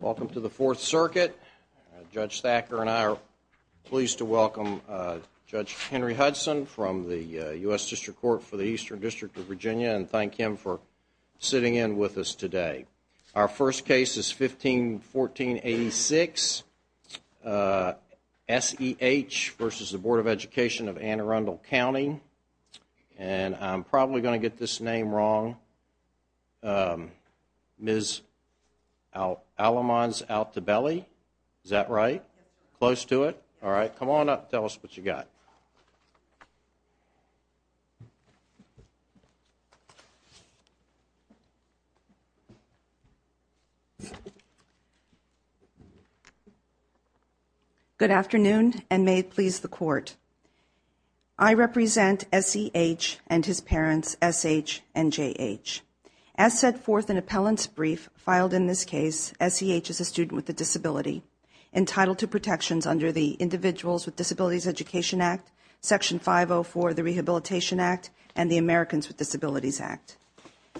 Welcome to the Fourth Circuit. Judge Thacker and I are pleased to welcome Judge Henry Hudson from the U.S. District Court for the Eastern District of Virginia and thank him for sitting in with us today. Our first case is 15-14-86, S.E.H. v. Bd of Ed of Anne Arundel Cnty and I'm probably going to get this name wrong, Ms. Alamanz-Altabelli, is that right? Close to it? All right. Come on up and tell us what you got. Good afternoon and may it please the Court. I represent S.E.H. and his parents, S.H. and J.H. As set forth in appellant's brief filed in this case, S.E.H. is a student with a disability entitled to protections under the Individuals with Disabilities Education Act, Section 504 the Rehabilitation Act, and the Americans with Disabilities Act.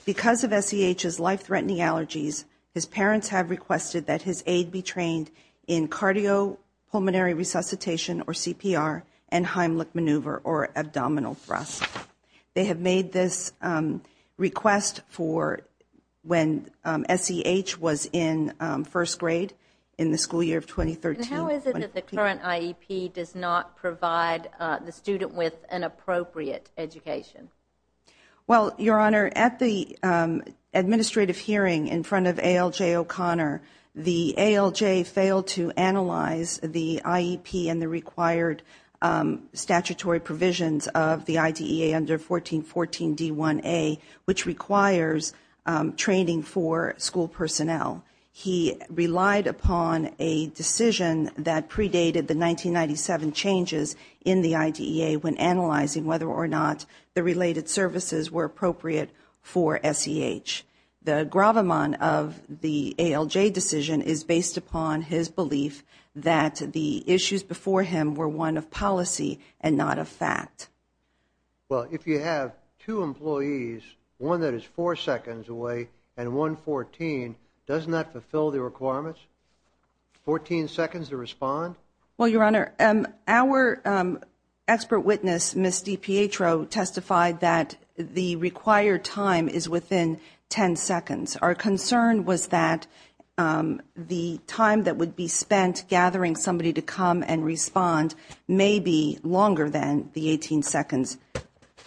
Because of S.E.H.'s life-threatening allergies, his parents have requested that his aid be and Heimlich Maneuver or abdominal thrust. They have made this request for when S.E.H. was in first grade in the school year of 2013. And how is it that the current IEP does not provide the student with an appropriate education? Well, Your Honor, at the administrative hearing in front of ALJ O'Connor, the ALJ failed to analyze the IEP and the required statutory provisions of the IDEA under 1414 D1A, which requires training for school personnel. He relied upon a decision that predated the 1997 changes in the IDEA when analyzing whether or not the related services were appropriate for S.E.H. The gravamon of the ALJ decision is based upon his belief that the issues before him were one of policy and not of fact. Well, if you have two employees, one that is four seconds away and one 14, doesn't that fulfill the requirements? Fourteen seconds to respond? Well, Your Honor, our expert witness, Ms. D. Pietro, testified that the required time is within 10 seconds. Our concern was that the time that would be spent gathering somebody to come and respond may be longer than the 18 seconds.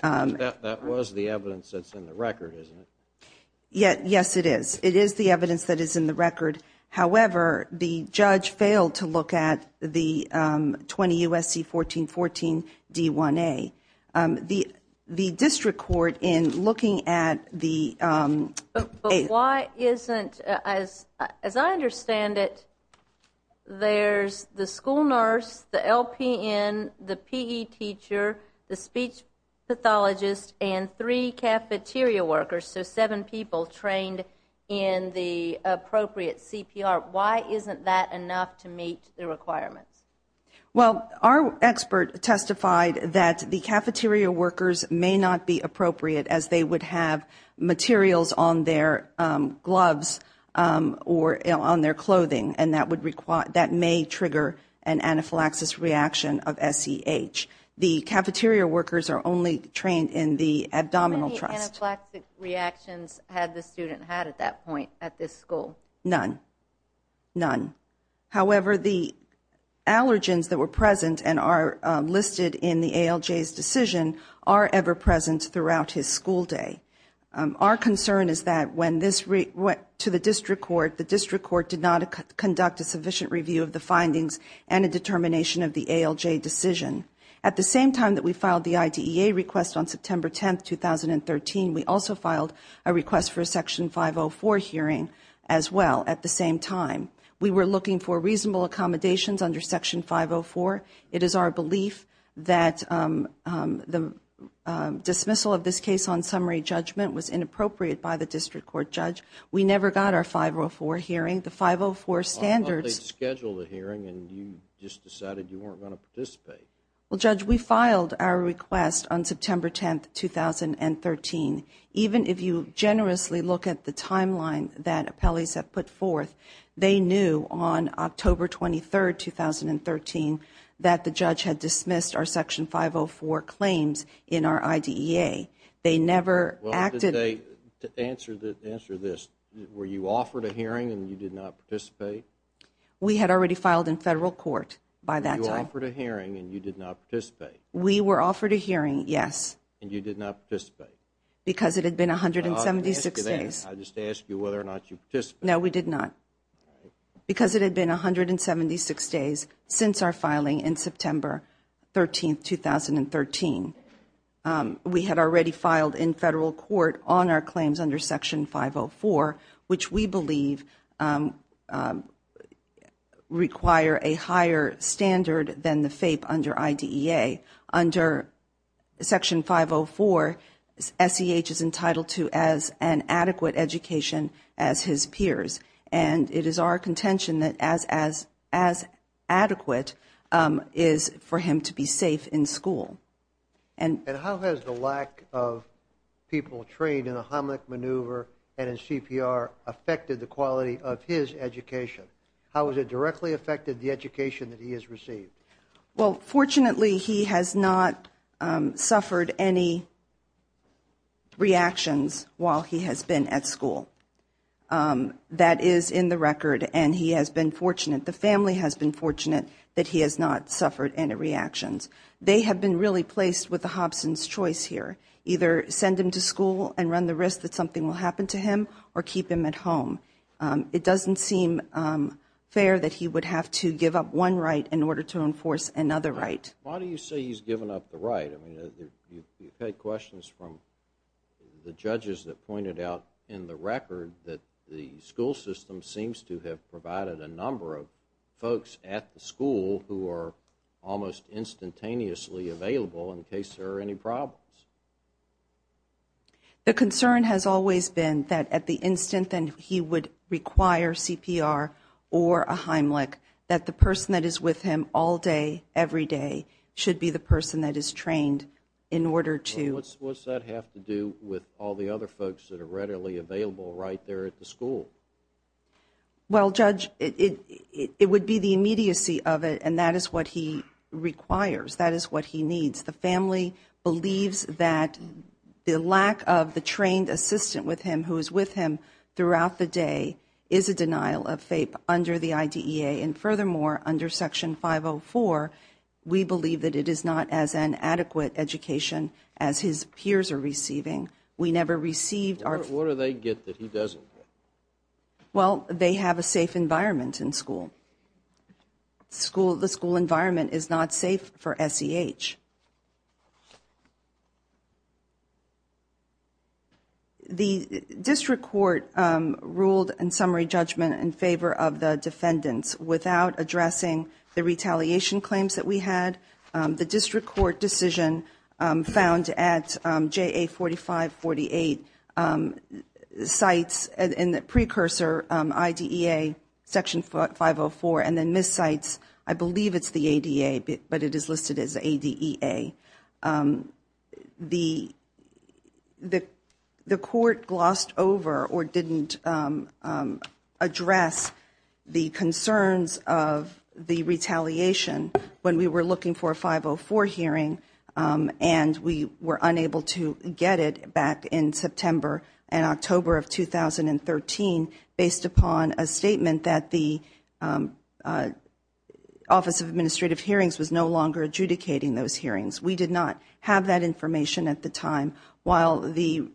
That was the evidence that's in the record, isn't it? Yes, it is. It is the evidence that is in the record. However, the judge failed to look at the 20 U.S.C. 1414 D1A. The district court in looking at the But why isn't, as I understand it, there's the school nurse, the LPN, the PE teacher, the speech pathologist, and three cafeteria workers, so seven people trained in the appropriate CPR. Why isn't that enough to meet the requirements? Well, our expert testified that the cafeteria workers may not be appropriate as they would have materials on their gloves or on their clothing, and that may trigger an anaphylaxis reaction of SEH. The cafeteria workers are only trained in the abdominal thrust. How many anaphylaxis reactions had the student had at that point at this school? None. None. However, the allergens that were present and are listed in the ALJ's decision are ever present throughout his school day. Our concern is that when this went to the district court, the district court did not conduct a sufficient review of the findings and a determination of the ALJ decision. At the same time that we filed the IDEA request on September 10, 2013, we also filed a request for a Section 504 hearing as well at the same time. We were looking for reasonable accommodations under Section 504. It is our belief that the dismissal of this case on summary judgment was inappropriate by the district court judge. We never got our 504 hearing. The 504 standards… I thought they scheduled a hearing and you just decided you weren't going to participate. Well, Judge, we filed our request on September 10, 2013. Even if you generously look at the timeline that appellees have put forth, they knew on October 23, 2013, that the judge had dismissed our Section 504 claims in our IDEA. They never acted… Well, did they? To answer this, were you offered a hearing and you did not participate? We had already filed in federal court by that time. Were you offered a hearing and you did not participate? We were offered a hearing, yes. And you did not participate? Because it had been 176 days. No, I didn't ask you that. I just asked you whether or not you participated. No, we did not. Because it had been 176 days since our filing in September 13, 2013. We had already filed in federal court on our claims under Section 504, which we believe require a higher standard than the FAPE under IDEA. Under Section 504, SEH is entitled to as an adequate education as his peers. And it is our contention that as adequate is for him to be safe in school. And how has the lack of people trained in a homilic maneuver and in CPR affected the quality of his education? How has it directly affected the education that he has received? Well, fortunately, he has not suffered any reactions while he has been at school. That is in the record and he has been fortunate, the family has been fortunate, that he has not suffered any reactions. They have been really placed with the Hobson's choice here. Either send him to school and run the risk that something will happen to him or keep him at home. It doesn't seem fair that he would have to give up one right in order to enforce another right. Why do you say he's given up the right? I mean, you've had questions from the judges that pointed out in the record that the school system seems to have provided a number of folks at the school who are almost instantaneously available in case there are any problems. The concern has always been that at the instant that he would require CPR or a homilic, that the person that is with him all day, every day, should be the person that is trained in order to. Well, what does that have to do with all the other folks that are readily available right there at the school? Well, Judge, it would be the immediacy of it and that is what he requires. That is what he needs. The family believes that the lack of the trained assistant with him who is with him throughout the day is a denial of FAPE under the IDEA and furthermore, under Section 504, we believe that it is not as an adequate education as his peers are receiving. We never received our- What do they get that he doesn't get? Well, they have a safe environment in school. The school environment is not safe for SEH. The district court ruled in summary judgment in favor of the defendants. Without addressing the retaliation claims that we had, the district court decision found at JA4548 sites in the precursor IDEA, Section 504 and then Ms. Cites, I believe it is the ADA, but it is listed as ADEA. The court glossed over or didn't address the concerns of the retaliation when we were looking for a 504 hearing and we were unable to get it back in September and October of 2013 based upon a statement that the Office of Administrative Hearings was no longer adjudicating those hearings. We did not have that information at the time. While the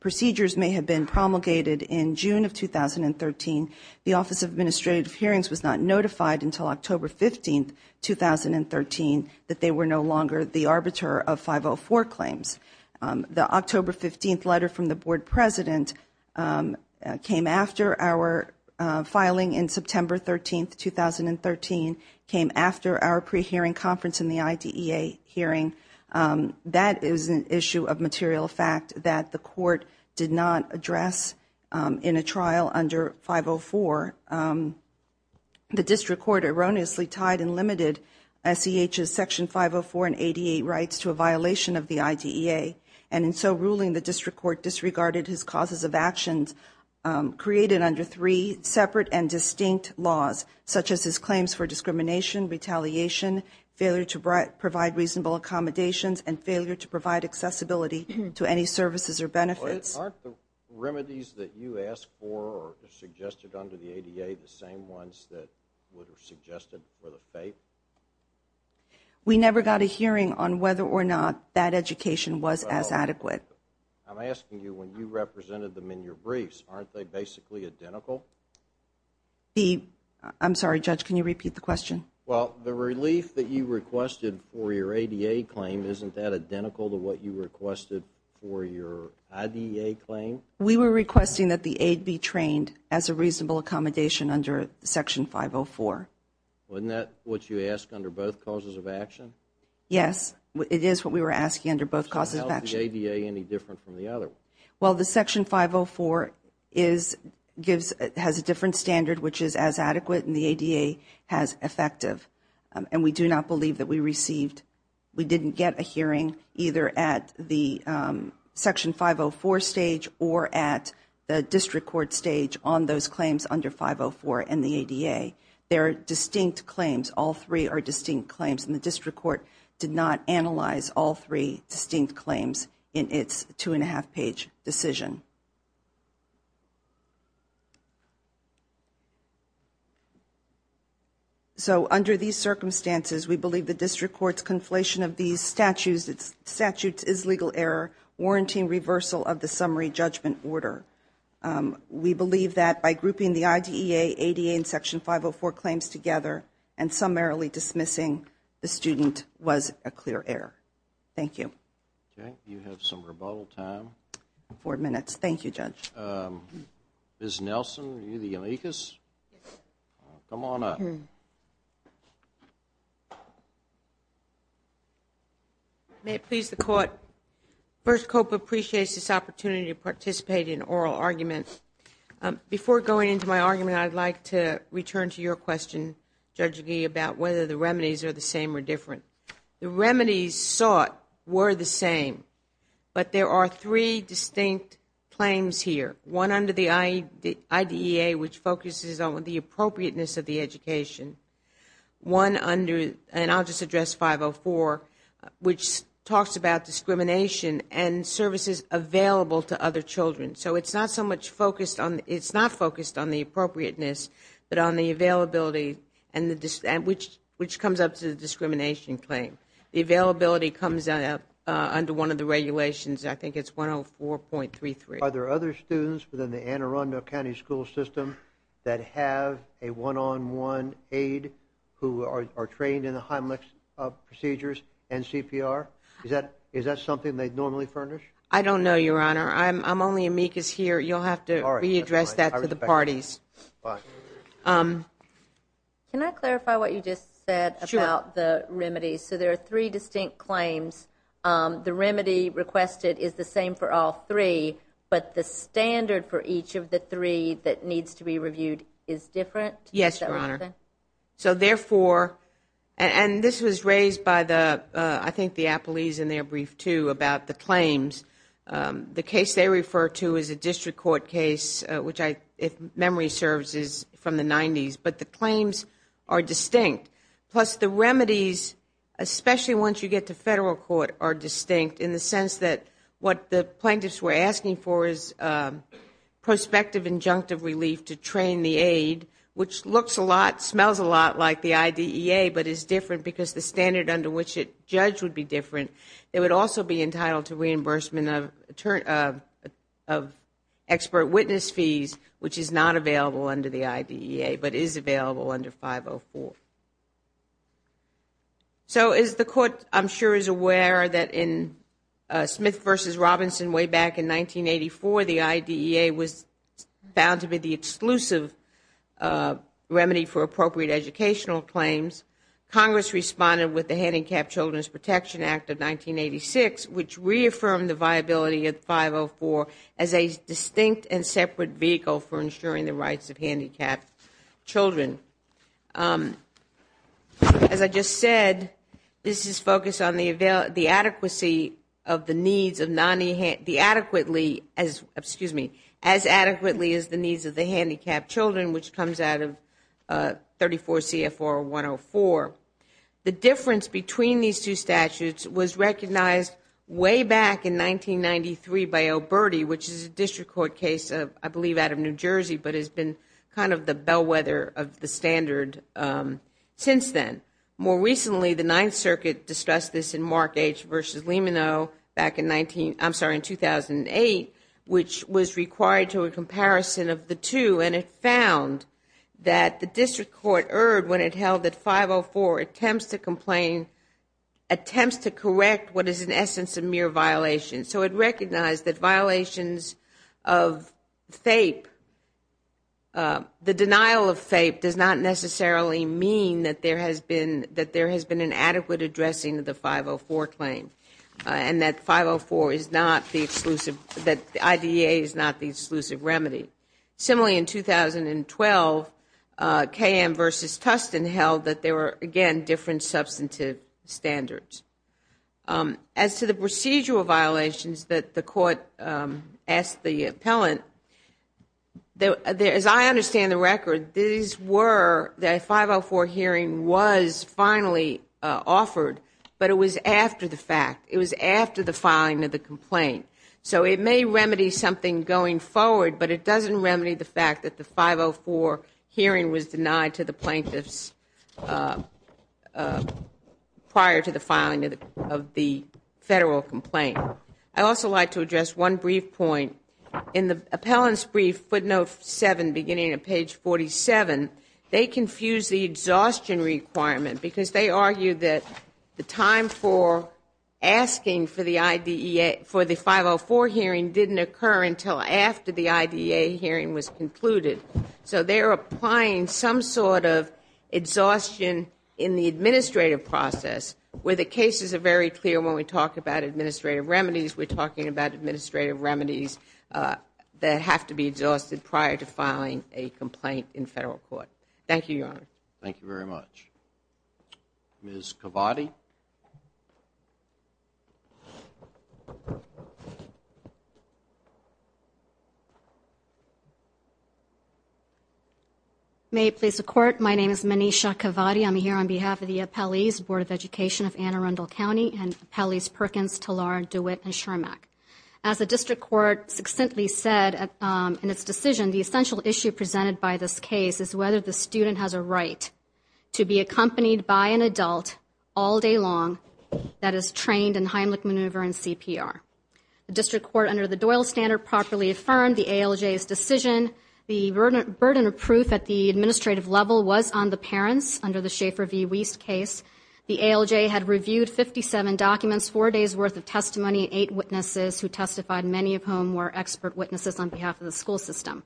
procedures may have been promulgated in June of 2013, the Office of Administrative they were no longer the arbiter of 504 claims. The October 15th letter from the board president came after our filing in September 13th, 2013, came after our pre-hearing conference in the IDEA hearing. That is an issue of material fact that the court did not address in a trial under 504. The district court erroneously tied and limited SEH's Section 504 and ADA rights to a violation of the IDEA and in so ruling the district court disregarded his causes of actions created under three separate and distinct laws such as his claims for discrimination, retaliation, failure to provide reasonable accommodations, and failure to provide accessibility to any services or benefits. Aren't the remedies that you asked for or suggested under the ADA the same ones that would have suggested for the FAPE? We never got a hearing on whether or not that education was as adequate. I'm asking you when you represented them in your briefs, aren't they basically identical? I'm sorry judge, can you repeat the question? Well the relief that you requested for your ADA claim, isn't that identical to what you We were requesting that the aid be trained as a reasonable accommodation under Section 504. Wasn't that what you asked under both causes of action? Yes, it is what we were asking under both causes of action. So how is the ADA any different from the other one? Well the Section 504 has a different standard which is as adequate and the ADA has effective and we do not believe that we received, we didn't get a hearing either at the Section 504 stage or at the District Court stage on those claims under 504 and the ADA. They're distinct claims, all three are distinct claims and the District Court did not analyze all three distinct claims in its two and a half page decision. So under these circumstances, we believe the District Court's conflation of these statutes is legal error warranting reversal of the summary judgment order. We believe that by grouping the IDEA, ADA and Section 504 claims together and summarily dismissing the student was a clear error. Thank you. Okay, you have some rebuttal time. Four minutes. Thank you judge. Ms. Nelson, are you the amicus? Come on up. May it please the court, First COPA appreciates this opportunity to participate in oral arguments. Before going into my argument, I'd like to return to your question Judge Agee about whether the remedies are the same or different. The remedies sought were the same but there are three distinct claims here. One under the IDEA which focuses on the appropriateness of the education. One under, and I'll just address 504, which talks about discrimination and services available to other children. So it's not so much focused on, it's not focused on the appropriateness, but on the availability which comes up to the discrimination claim. The availability comes up under one of the regulations, I think it's 104.33. Are there other students within the Anne Arundel County School System that have a one-on-one aid who are trained in the Heimlich procedures and CPR? Is that something they'd normally furnish? I don't know your honor, I'm only amicus here, you'll have to re-address that to the parties. Can I clarify what you just said about the remedies? So there are three distinct claims. The remedy requested is the same for all three, but the standard for each of the three that needs to be reviewed is different? Yes, your honor. So therefore, and this was raised by the, I think the appellees in their brief too about the claims. The case they refer to is a district court case, which if memory serves is from the 90s, but the claims are distinct. Plus the remedies, especially once you get to federal court, are distinct in the sense that what the plaintiffs were asking for is prospective injunctive relief to train the aid, which looks a lot, smells a lot like the IDEA, but is different because the standard under which it judged would be different. It would also be entitled to reimbursement of expert witness fees, which is not available under the IDEA, but is available under 504. So as the court I'm sure is aware that in Smith v. Robinson way back in 1984, the IDEA was found to be the exclusive remedy for appropriate educational claims. Congress responded with the Handicapped Children's Protection Act of 1986, which reaffirmed the need for handicapped children. As I just said, this is focused on the adequacy of the needs of the handicapped children, which comes out of 34 CFR 104. The difference between these two statutes was recognized way back in 1993 by Oberti, which is a district court case, I believe, out of New Jersey, but has been kind of the bellwether of the standard since then. More recently, the Ninth Circuit discussed this in Mark H. v. Limino back in 2008, which was required to a comparison of the two, and it found that the district court erred when it held that 504 attempts to correct what is in essence a mere violation. So it recognized that violations of FAPE, the denial of FAPE does not necessarily mean that there has been an adequate addressing of the 504 claim, and that the IDEA is not the exclusive remedy. Similarly in 2012, KM v. Tustin held that there were, again, different substantive standards. As to the procedural violations that the court asked the appellant, as I understand the record, these were, that 504 hearing was finally offered, but it was after the fact. It was after the filing of the complaint. So it may remedy something going forward, but it doesn't remedy the fact that the 504 hearing was denied to the plaintiffs prior to the filing of the Federal complaint. I'd also like to address one brief point. In the appellant's brief, footnote 7, beginning at page 47, they confused the exhaustion requirement because they argued that the time for asking for the IDEA, for the 504 hearing didn't occur until after the IDEA hearing was concluded. So they're applying some sort of exhaustion in the administrative process, where the cases are very clear when we talk about administrative remedies. We're talking about administrative remedies that have to be exhausted prior to filing a complaint in Federal court. Thank you, Your Honor. Thank you very much. Ms. Cavati? May it please the Court, my name is Manisha Cavati. I'm here on behalf of the Appellee's Board of Education of Anne Arundel County and Appellees Perkins, Talar, DeWitt, and Schermack. As the District Court succinctly said in its decision, the essential issue presented by this case is whether the student has a right to be accompanied by an adult all day long that is trained in Heimlich Maneuver and CPR. The District Court under the Doyle Standard properly affirmed the ALJ's decision. The burden of proof at the administrative level was on the parents under the Schaefer v. Wiest case. The ALJ had reviewed 57 documents, four days worth of testimony, and eight witnesses who testified, many of whom were expert witnesses on behalf of the school system.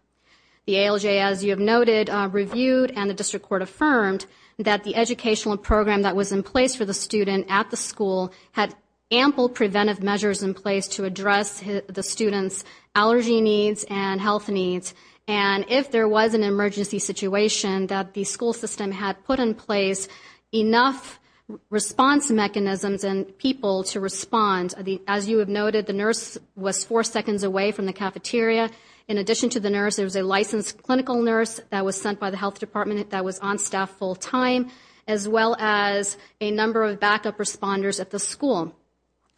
The ALJ, as you have noted, reviewed and the District Court affirmed that the educational program that was in place for the student at the school had ample preventive measures in place to address the student's allergy needs and health needs. And if there was an emergency situation, that the school system had put in place enough response mechanisms and people to respond. As you have noted, the nurse was four seconds away from the cafeteria. In addition to the nurse, there was a licensed clinical nurse that was sent by the health department that was on staff full time, as well as a number of backup responders at the school.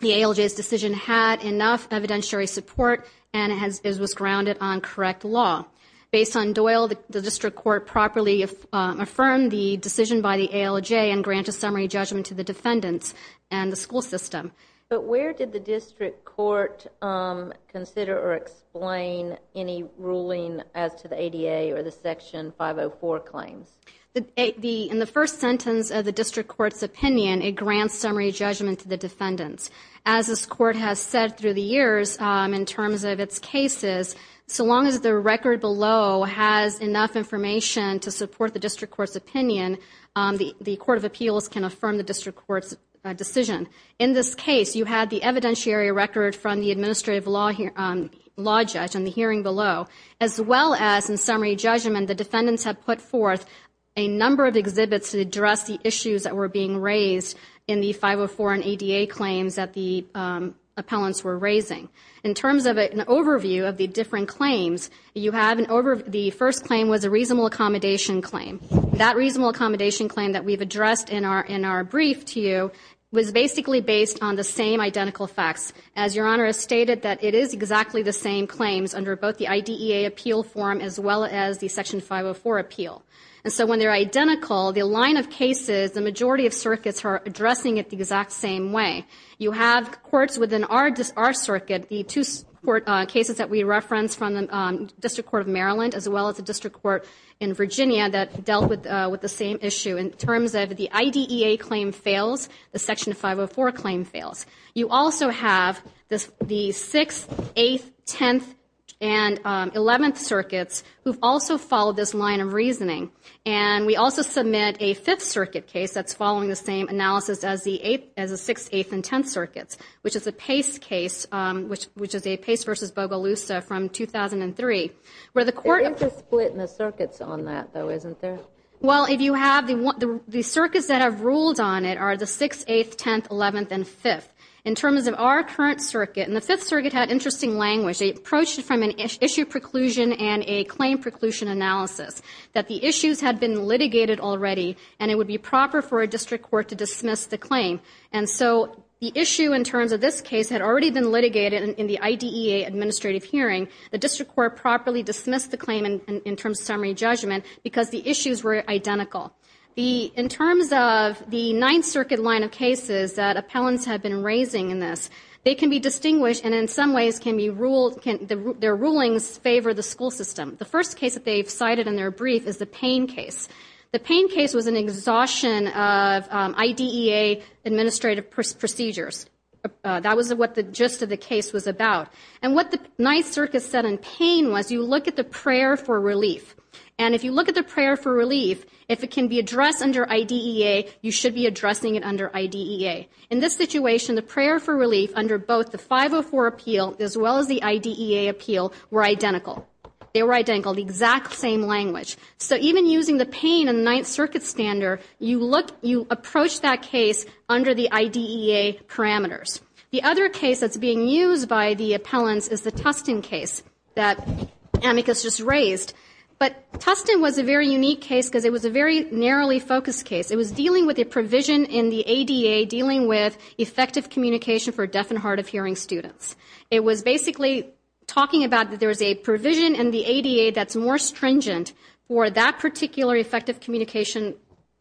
The ALJ's decision had enough evidentiary support and it was grounded on correct law. Based on Doyle, the District Court properly affirmed the decision by the ALJ and granted summary judgment to the defendants and the school system. But where did the District Court consider or explain any ruling as to the ADA or the Section 504 claims? In the first sentence of the District Court's opinion, it grants summary judgment to the defendants. As this Court has said through the years, in terms of its cases, so long as the record below has enough information to support the District Court's opinion, the Court of Appeals can affirm the District Court's decision. In this case, you had the evidentiary record from the administrative law judge in the hearing below, as well as in summary judgment and the defendants have put forth a number of exhibits to address the issues that were being raised in the 504 and ADA claims that the appellants were raising. In terms of an overview of the different claims, you have an overview. The first claim was a reasonable accommodation claim. That reasonable accommodation claim that we've addressed in our brief to you was basically based on the same identical facts. As Your Honor has stated, it is exactly the same claims under both the IDEA appeal form, as well as the Section 504 appeal. And so when they're identical, the line of cases, the majority of circuits are addressing it the exact same way. You have courts within our circuit, the two cases that we referenced from the District Court of Maryland, as well as the District Court in Virginia that dealt with the same issue. In terms of the IDEA claim fails, the Section 504 claim fails. You also have the 6th, 8th, 10th, and 11th circuits who've also followed this line of reasoning. And we also submit a 5th circuit case that's following the same analysis as the 6th, 8th, and 10th circuits, which is a Pace case, which is a Pace v. Bogalusa from 2003, where the court- They're just splitting the circuits on that though, isn't there? Well, if you have the circuits that have ruled on it are the 6th, 8th, 10th, 11th, and 5th. In terms of our current circuit, and the 5th circuit had interesting language. They approached it from an issue preclusion and a claim preclusion analysis, that the issues had been litigated already and it would be proper for a district court to dismiss the claim. And so the issue in terms of this case had already been litigated in the IDEA administrative hearing. The district court properly dismissed the claim in terms of summary judgment because the issues were identical. In terms of the 9th circuit line of cases that appellants have been raising in this, they can be distinguished and in some ways their rulings favor the school system. The first case that they've cited in their brief is the Payne case. The Payne case was an exhaustion of IDEA administrative procedures. That was what the gist of the case was about. And what the 9th circuit said in Payne was you look at the prayer for relief. And if you look at the prayer for relief, if it can be addressed under IDEA, you should be addressing it under IDEA. In this situation, the prayer for relief under both the 504 appeal as well as the IDEA appeal were identical. They were identical, the exact same language. So even using the Payne and 9th circuit standard, you approach that case under the IDEA parameters. The other case that's being used by the appellants is the Tustin case that Amicus just raised. But Tustin was a very unique case because it was a very narrowly focused case. It was dealing with a provision in the ADA dealing with effective communication for deaf and hard of hearing students. It was basically talking about that there was a provision in the ADA that's more stringent for that particular effective communication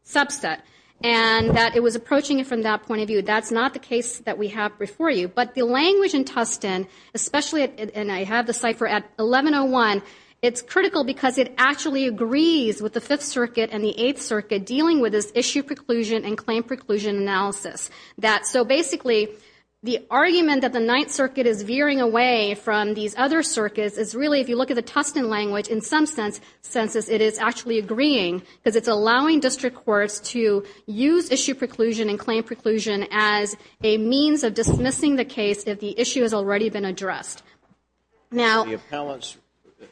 subset and that it was approaching it from that point of view. That's not the case that we have before you. But the language in Tustin, especially, and I have the cipher at 1101, it's critical because it actually agrees with the 5th circuit and the 8th circuit dealing with this issue preclusion and claim preclusion analysis. So basically, the argument that the 9th circuit is veering away from these other circuits is really if you look at the Tustin language, in some senses it is actually agreeing because it's allowing district courts to use issue preclusion and claim preclusion as a means of dismissing the case if the issue has already been addressed. The appellants,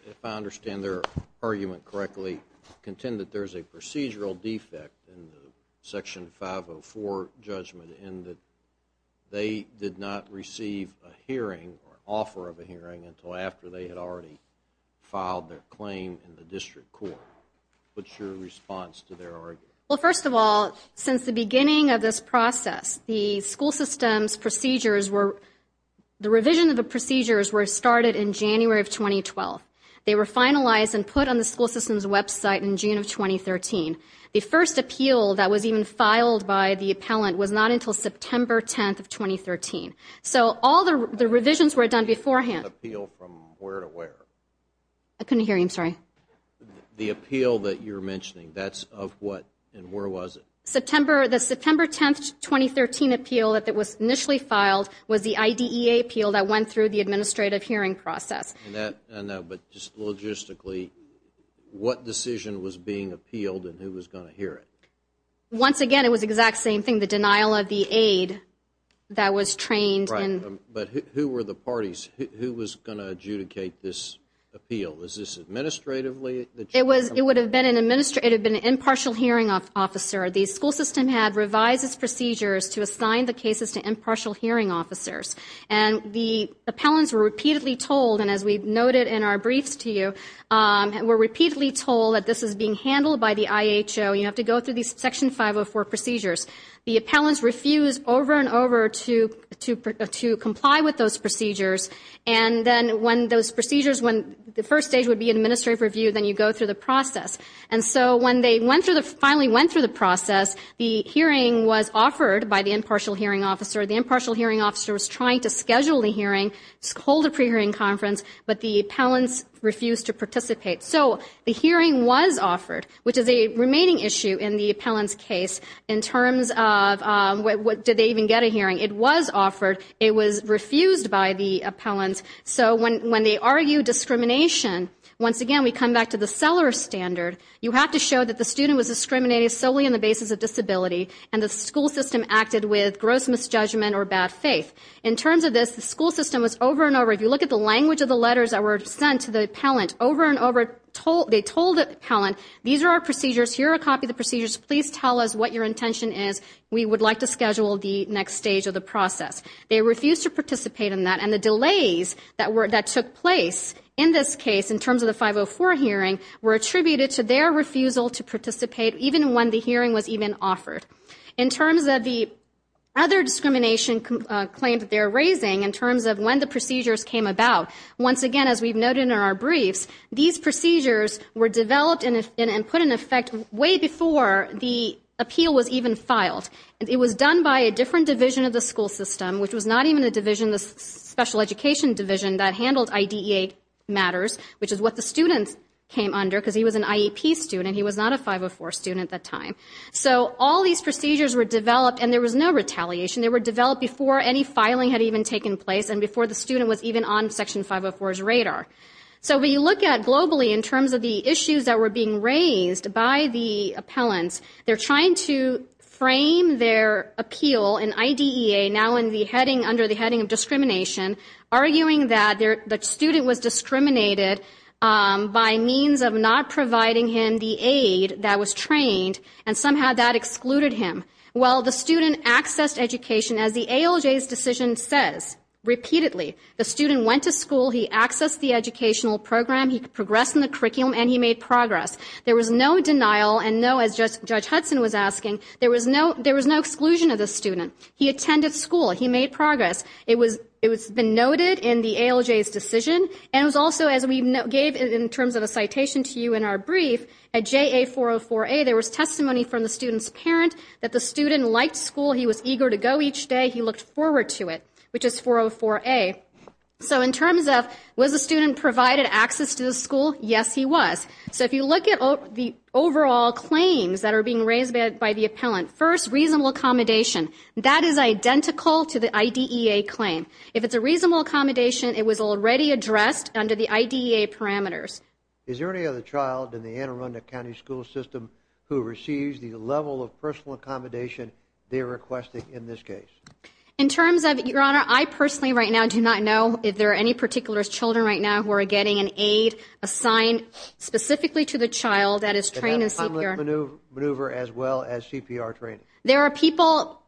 if I understand their argument correctly, contend that there's a procedural defect in the Section 504 judgment in that they did not receive a hearing or an offer of a hearing until after they had already filed their claim in the district court. What's your response to their argument? Well, first of all, since the beginning of this process, the school system's procedures were, the revision of the procedures were started in January of 2012. They were finalized and put on the school system's website in June of 2013. The first appeal that was even filed by the appellant was not until September 10th of 2013. So all the revisions were done beforehand. Appeal from where to where? I couldn't hear you, I'm sorry. The appeal that you're mentioning, that's of what and where was it? September, the September 10th, 2013 appeal that was initially filed was the IDEA appeal that went through the administrative hearing process. And that, I know, but just logistically, what decision was being appealed and who was going to hear it? Once again, it was the exact same thing, the denial of the aid that was trained in. But who were the parties? Who was going to adjudicate this appeal? Was this administratively? It was, it would have been an administrative, it would have been an impartial hearing officer. The school system had revised its procedures to assign the cases to impartial hearing officers. And the appellants were repeatedly told, and as we noted in our briefs to you, were repeatedly told that this is being handled by the IHO, you have to go through these Section 504 procedures. The appellants refused over and over to comply with those procedures. And then when those procedures, when the first stage would be administrative review, then you go through the process. And so when they went through the, finally went through the process, the hearing was offered by the impartial hearing officer. The impartial hearing officer was trying to schedule the hearing, hold a pre-hearing conference, but the appellants refused to participate. So the hearing was offered, which is a remaining issue in the appellant's case, in terms of did they even get a hearing? It was offered. It was refused by the appellants. So when they argue discrimination, once again, we come back to the seller standard. You have to show that the student was discriminated solely on the basis of disability, and the school system acted with gross misjudgment or bad faith. In terms of this, the school system was over and over, if you look at the language of the They told the appellant, these are our procedures, here are a copy of the procedures, please tell us what your intention is, we would like to schedule the next stage of the process. They refused to participate in that, and the delays that took place in this case, in terms of the 504 hearing, were attributed to their refusal to participate, even when the hearing was even offered. In terms of the other discrimination claims that they're raising, in terms of when the were developed and put in effect way before the appeal was even filed. It was done by a different division of the school system, which was not even a division, the special education division that handled IDEA matters, which is what the student came under, because he was an IEP student, he was not a 504 student at that time. So all these procedures were developed, and there was no retaliation. They were developed before any filing had even taken place, and before the student was even on Section 504's radar. So when you look at, globally, in terms of the issues that were being raised by the appellants, they're trying to frame their appeal in IDEA, now under the heading of discrimination, arguing that the student was discriminated by means of not providing him the aid that was trained, and somehow that excluded him. Well, the student accessed education, as the ALJ's decision says, repeatedly. The student went to school, he accessed the educational program, he progressed in the curriculum, and he made progress. There was no denial, and no, as Judge Hudson was asking, there was no exclusion of the student. He attended school, he made progress. It was been noted in the ALJ's decision, and it was also, as we gave in terms of a citation to you in our brief, at JA-404A, there was testimony from the student's parent that the student liked school, he was eager to go each day, he looked forward to it, which is 404A. So in terms of, was the student provided access to the school? Yes, he was. So if you look at the overall claims that are being raised by the appellant, first, reasonable accommodation, that is identical to the IDEA claim. If it's a reasonable accommodation, it was already addressed under the IDEA parameters. Is there any other child in the Anne Arundel County School System who receives the level of personal accommodation they're requesting in this case? In terms of, Your Honor, I personally right now do not know if there are any particular children right now who are getting an aid assigned specifically to the child that is trained in CPR. And have a complex maneuver as well as CPR training? There are people,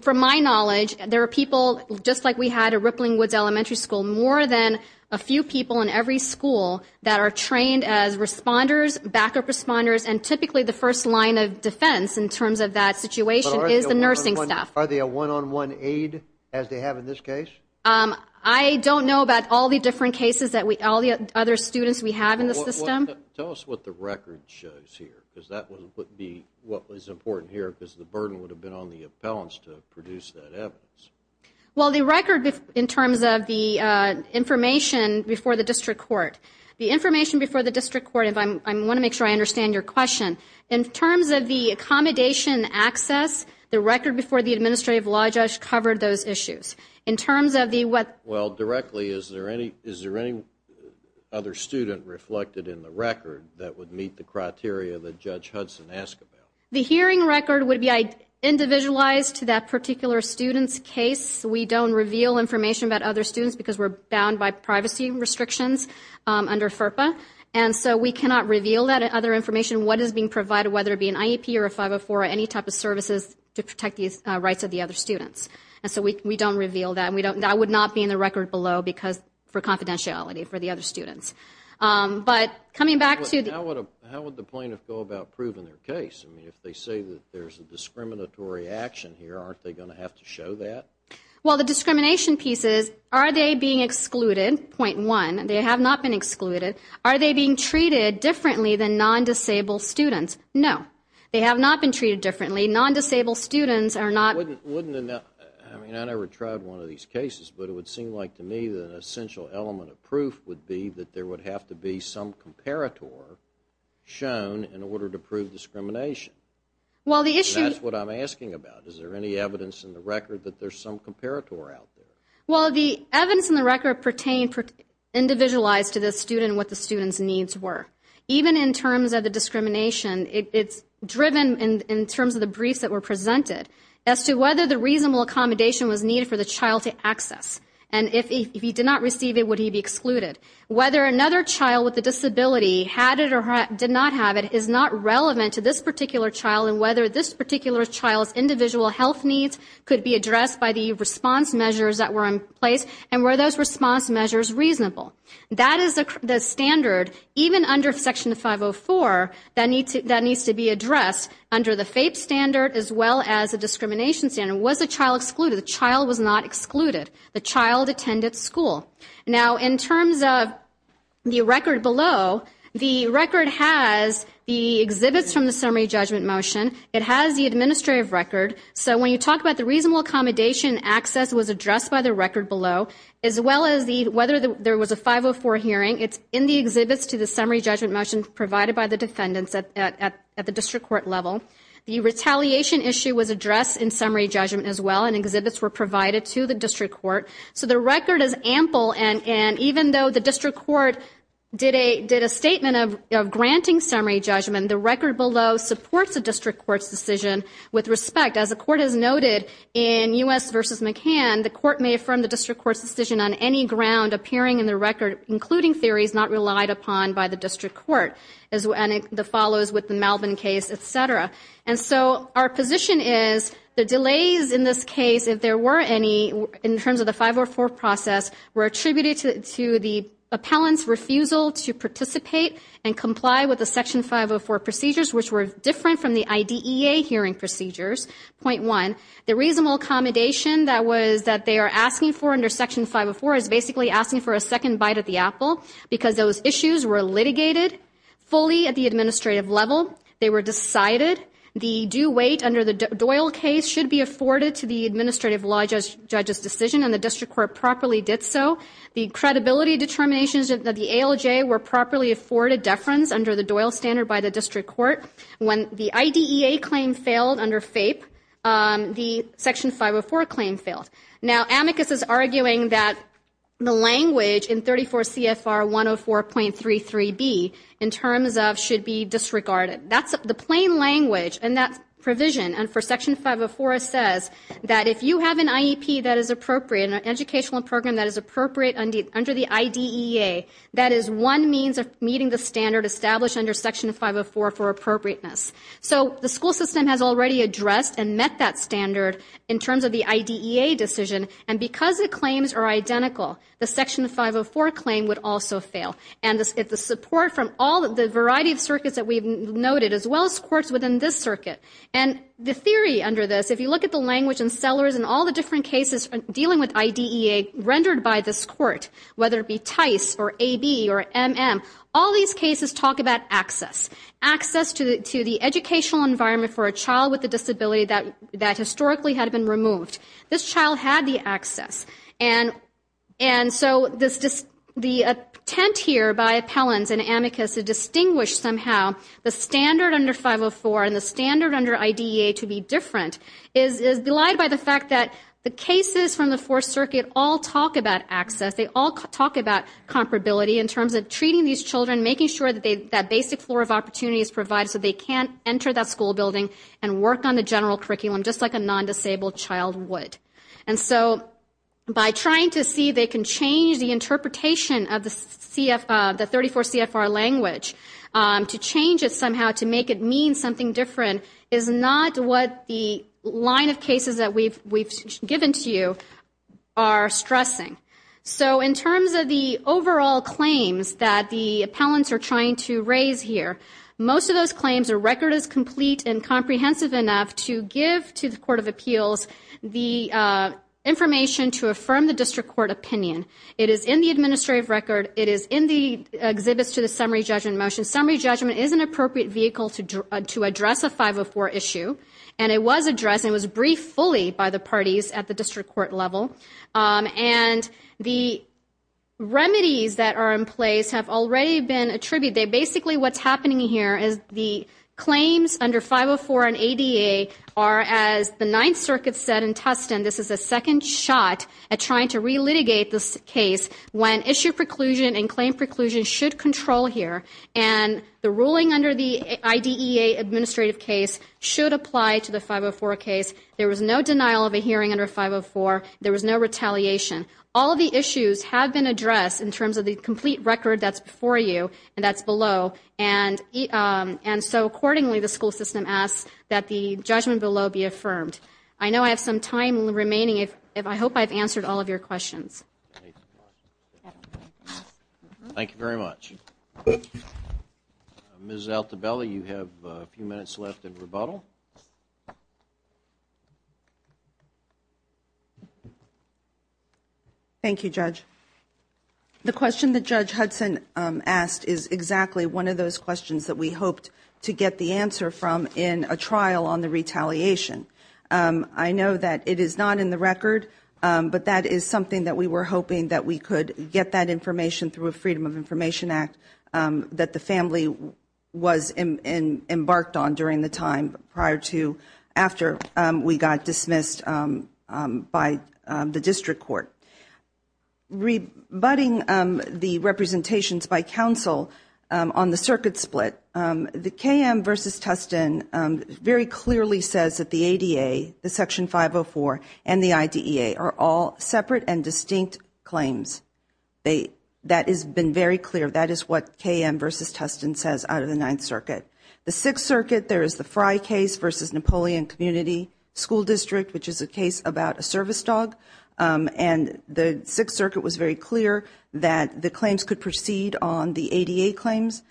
from my knowledge, there are people, just like we had at Rippling Woods Elementary School, more than a few people in every school that are trained as responders, backup responders, and typically the first line of defense in terms of that situation is the nursing staff. Are they a one-on-one aid, as they have in this case? I don't know about all the different cases that we, all the other students we have in the system. Tell us what the record shows here, because that would be what is important here, because the burden would have been on the appellants to produce that evidence. Well, the record, in terms of the information before the district court, the information before the district court, I want to make sure I understand your question. In terms of the accommodation and access, the record before the administrative law judge covered those issues. In terms of the, what- Well, directly, is there any other student reflected in the record that would meet the criteria that Judge Hudson asked about? The hearing record would be individualized to that particular student's case. We don't reveal information about other students because we're bound by privacy restrictions under FERPA. And so, we cannot reveal that other information, what is being provided, whether it be an IEP or a 504 or any type of services to protect the rights of the other students. And so, we don't reveal that, and we don't, that would not be in the record below because, for confidentiality for the other students. But coming back to- How would the plaintiff go about proving their case? I mean, if they say that there's a discriminatory action here, aren't they going to have to show that? Well, the discrimination piece is, are they being excluded, point one. They have not been excluded. Are they being treated differently than non-disabled students? No. They have not been treated differently. Non-disabled students are not- Wouldn't, wouldn't, I mean, I never tried one of these cases, but it would seem like to me that an essential element of proof would be that there would have to be some comparator shown in order to prove discrimination. Well the issue- That's what I'm asking about. Is there any evidence in the record that there's some comparator out there? Well, the evidence in the record pertained, individualized to the student what the student's needs were. Even in terms of the discrimination, it's driven in terms of the briefs that were presented as to whether the reasonable accommodation was needed for the child to access. And if he did not receive it, would he be excluded? Whether another child with a disability had it or did not have it is not relevant to this particular child and whether this particular child's individual health needs could be addressed by the response measures that were in place and were those response measures reasonable. That is the standard, even under Section 504, that needs to be addressed under the FAPE standard as well as the discrimination standard. Was the child excluded? The child was not excluded. The child attended school. Now in terms of the record below, the record has the exhibits from the summary judgment motion. It has the administrative record. So when you talk about the reasonable accommodation, access was addressed by the record below as well as whether there was a 504 hearing, it's in the exhibits to the summary judgment motion provided by the defendants at the district court level. The retaliation issue was addressed in summary judgment as well and exhibits were provided to the district court. So the record is ample and even though the district court did a statement of granting summary judgment, the record below supports the district court's decision with respect. As the court has noted in U.S. v. McCann, the court may affirm the district court's decision on any ground appearing in the record, including theories not relied upon by the district court, as the follows with the Melvin case, et cetera. And so our position is the delays in this case, if there were any, in terms of the 504 court process were attributed to the appellant's refusal to participate and comply with the section 504 procedures, which were different from the IDEA hearing procedures, point one. The reasonable accommodation that was, that they are asking for under section 504 is basically asking for a second bite at the apple because those issues were litigated fully at the administrative level. They were decided. The due weight under the Doyle case should be afforded to the administrative law judge's decision and the district court properly did so. The credibility determinations of the ALJ were properly afforded deference under the Doyle standard by the district court. When the IDEA claim failed under FAPE, the section 504 claim failed. Now amicus is arguing that the language in 34 CFR 104.33B in terms of should be disregarded. That's the plain language and that provision and for section 504 it says that if you have an IEP that is appropriate, an educational program that is appropriate under the IDEA, that is one means of meeting the standard established under section 504 for appropriateness. So the school system has already addressed and met that standard in terms of the IDEA decision and because the claims are identical, the section 504 claim would also fail. And if the support from all the variety of circuits that we've noted as well as courts within this circuit and the theory under this, if you look at the language and sellers and all the different cases dealing with IDEA rendered by this court, whether it be TICE or AB or MM, all these cases talk about access. Access to the educational environment for a child with a disability that historically had been removed. This child had the access and so the attempt here by appellants and amicus to distinguish somehow the standard under 504 and the standard under IDEA to be different is belied by the fact that the cases from the Fourth Circuit all talk about access. They all talk about comparability in terms of treating these children, making sure that basic floor of opportunity is provided so they can enter that school building and work on the general curriculum just like a non-disabled child would. And so by trying to see they can change the interpretation of the 34 CFR language to change it somehow to make it mean something different is not what the line of cases that we've given to you are stressing. So in terms of the overall claims that the appellants are trying to raise here, most of those claims, a record is complete and comprehensive enough to give to the Court of Appeals the information to affirm the district court opinion. It is in the administrative record. It is in the exhibits to the summary judgment motion. Summary judgment is an appropriate vehicle to address a 504 issue and it was addressed and it was briefed fully by the parties at the district court level. And the remedies that are in place have already been attributed. Basically what's happening here is the claims under 504 and ADA are as the Ninth Circuit said in Tustin, this is a second shot at trying to re-litigate this case when issue preclusion and claim preclusion should control here and the ruling under the IDEA administrative case should apply to the 504 case. There was no denial of a hearing under 504. There was no retaliation. All of the issues have been addressed in terms of the complete record that's before you and that's below and so accordingly the school system asks that the judgment below be affirmed. I know I have some time remaining. I hope I've answered all of your questions. Thank you very much. Ms. Altabella, you have a few minutes left in rebuttal. Thank you, Judge. The question that Judge Hudson asked is exactly one of those questions that we hoped to get the answer from in a trial on the retaliation. I know that it is not in the record but that is something that we were hoping that we could get that information through a Freedom of Information Act that the family was embarked on during the time prior to after we got dismissed by the district court. Rebutting the representations by counsel on the circuit split, the KM versus Tustin very clear, that is what KM versus Tustin says out of the Ninth Circuit. The Sixth Circuit, there is the Frye case versus Napoleon Community School District which is a case about a service dog and the Sixth Circuit was very clear that the claims could proceed on the ADA claims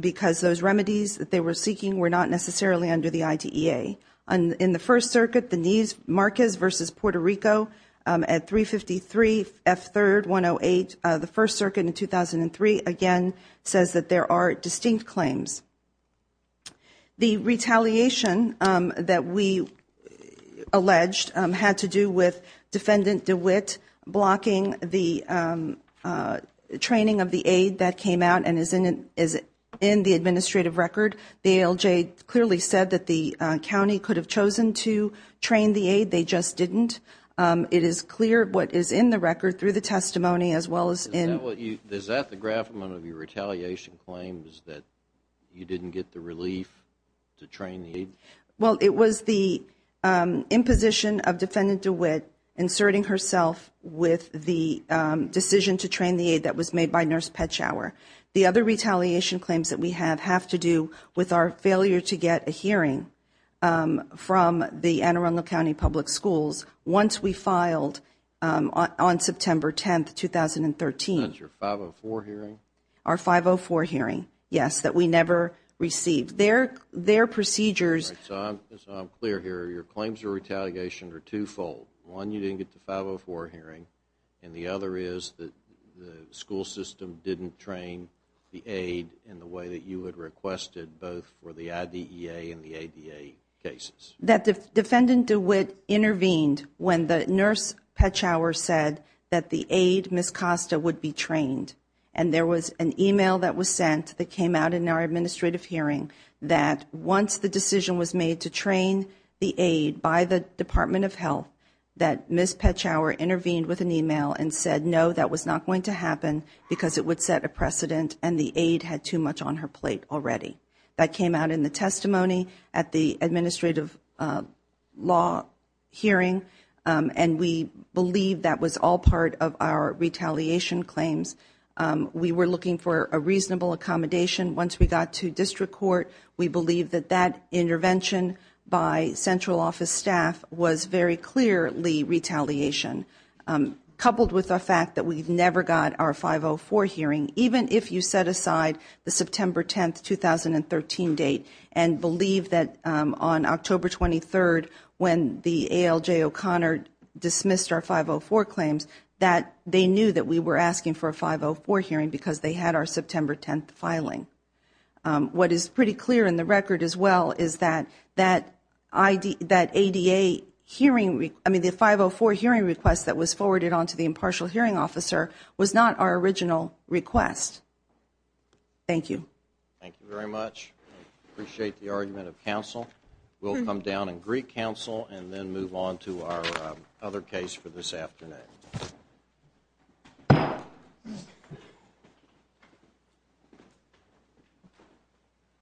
because those remedies that they were seeking were not necessarily under the IDEA. In the First Circuit, the Neves-Marquez versus Puerto Rico at 353 F. 3rd, 108, the First Circuit in 2003 again says that there are distinct claims. The retaliation that we alleged had to do with Defendant DeWitt blocking the training of the aid that came out and is in the administrative record. The ALJ clearly said that the county could have chosen to train the aid, they just didn't. It is clear what is in the record through the testimony as well as in... Is that the graph of one of your retaliation claims that you didn't get the relief to train the aid? Well, it was the imposition of Defendant DeWitt inserting herself with the decision to train the aid that was made by Nurse Petschauer. The other retaliation claims that we have have to do with our failure to get a hearing from the Anne Arundel County Public Schools once we filed on September 10, 2013. That is your 504 hearing? Our 504 hearing, yes, that we never received. Their procedures... All right. So I am clear here. Your claims of retaliation are two-fold. One, you didn't get the 504 hearing, and the other is that the school system didn't train the aid in the way that you had requested both for the IDEA and the ADA cases. That Defendant DeWitt intervened when the Nurse Petschauer said that the aid, Ms. Costa, would be trained. And there was an email that was sent that came out in our administrative hearing that once the decision was made to train the aid by the Department of Health, that Ms. Petschauer intervened with an email and said, no, that was not going to happen because it would set a precedent and the aid had too much on her plate already. That came out in the testimony at the administrative law hearing, and we believe that was all part of our retaliation claims. We were looking for a reasonable accommodation. Once we got to district court, we believe that that intervention by central office staff was very clearly retaliation, coupled with the fact that we never got our 504 hearing, even if you set aside the September 10th, 2013 date and believe that on October 23rd, when the ALJ O'Connor dismissed our 504 claims, that they knew that we were asking for a 504 hearing because they had our September 10th filing. What is pretty clear in the record as well is that that ADA hearing, I mean the 504 hearing request that was forwarded on to the impartial hearing officer was not our original request. Thank you. Thank you very much. I appreciate the argument of counsel. We'll come down and greet counsel and then move on to our other case for this afternoon.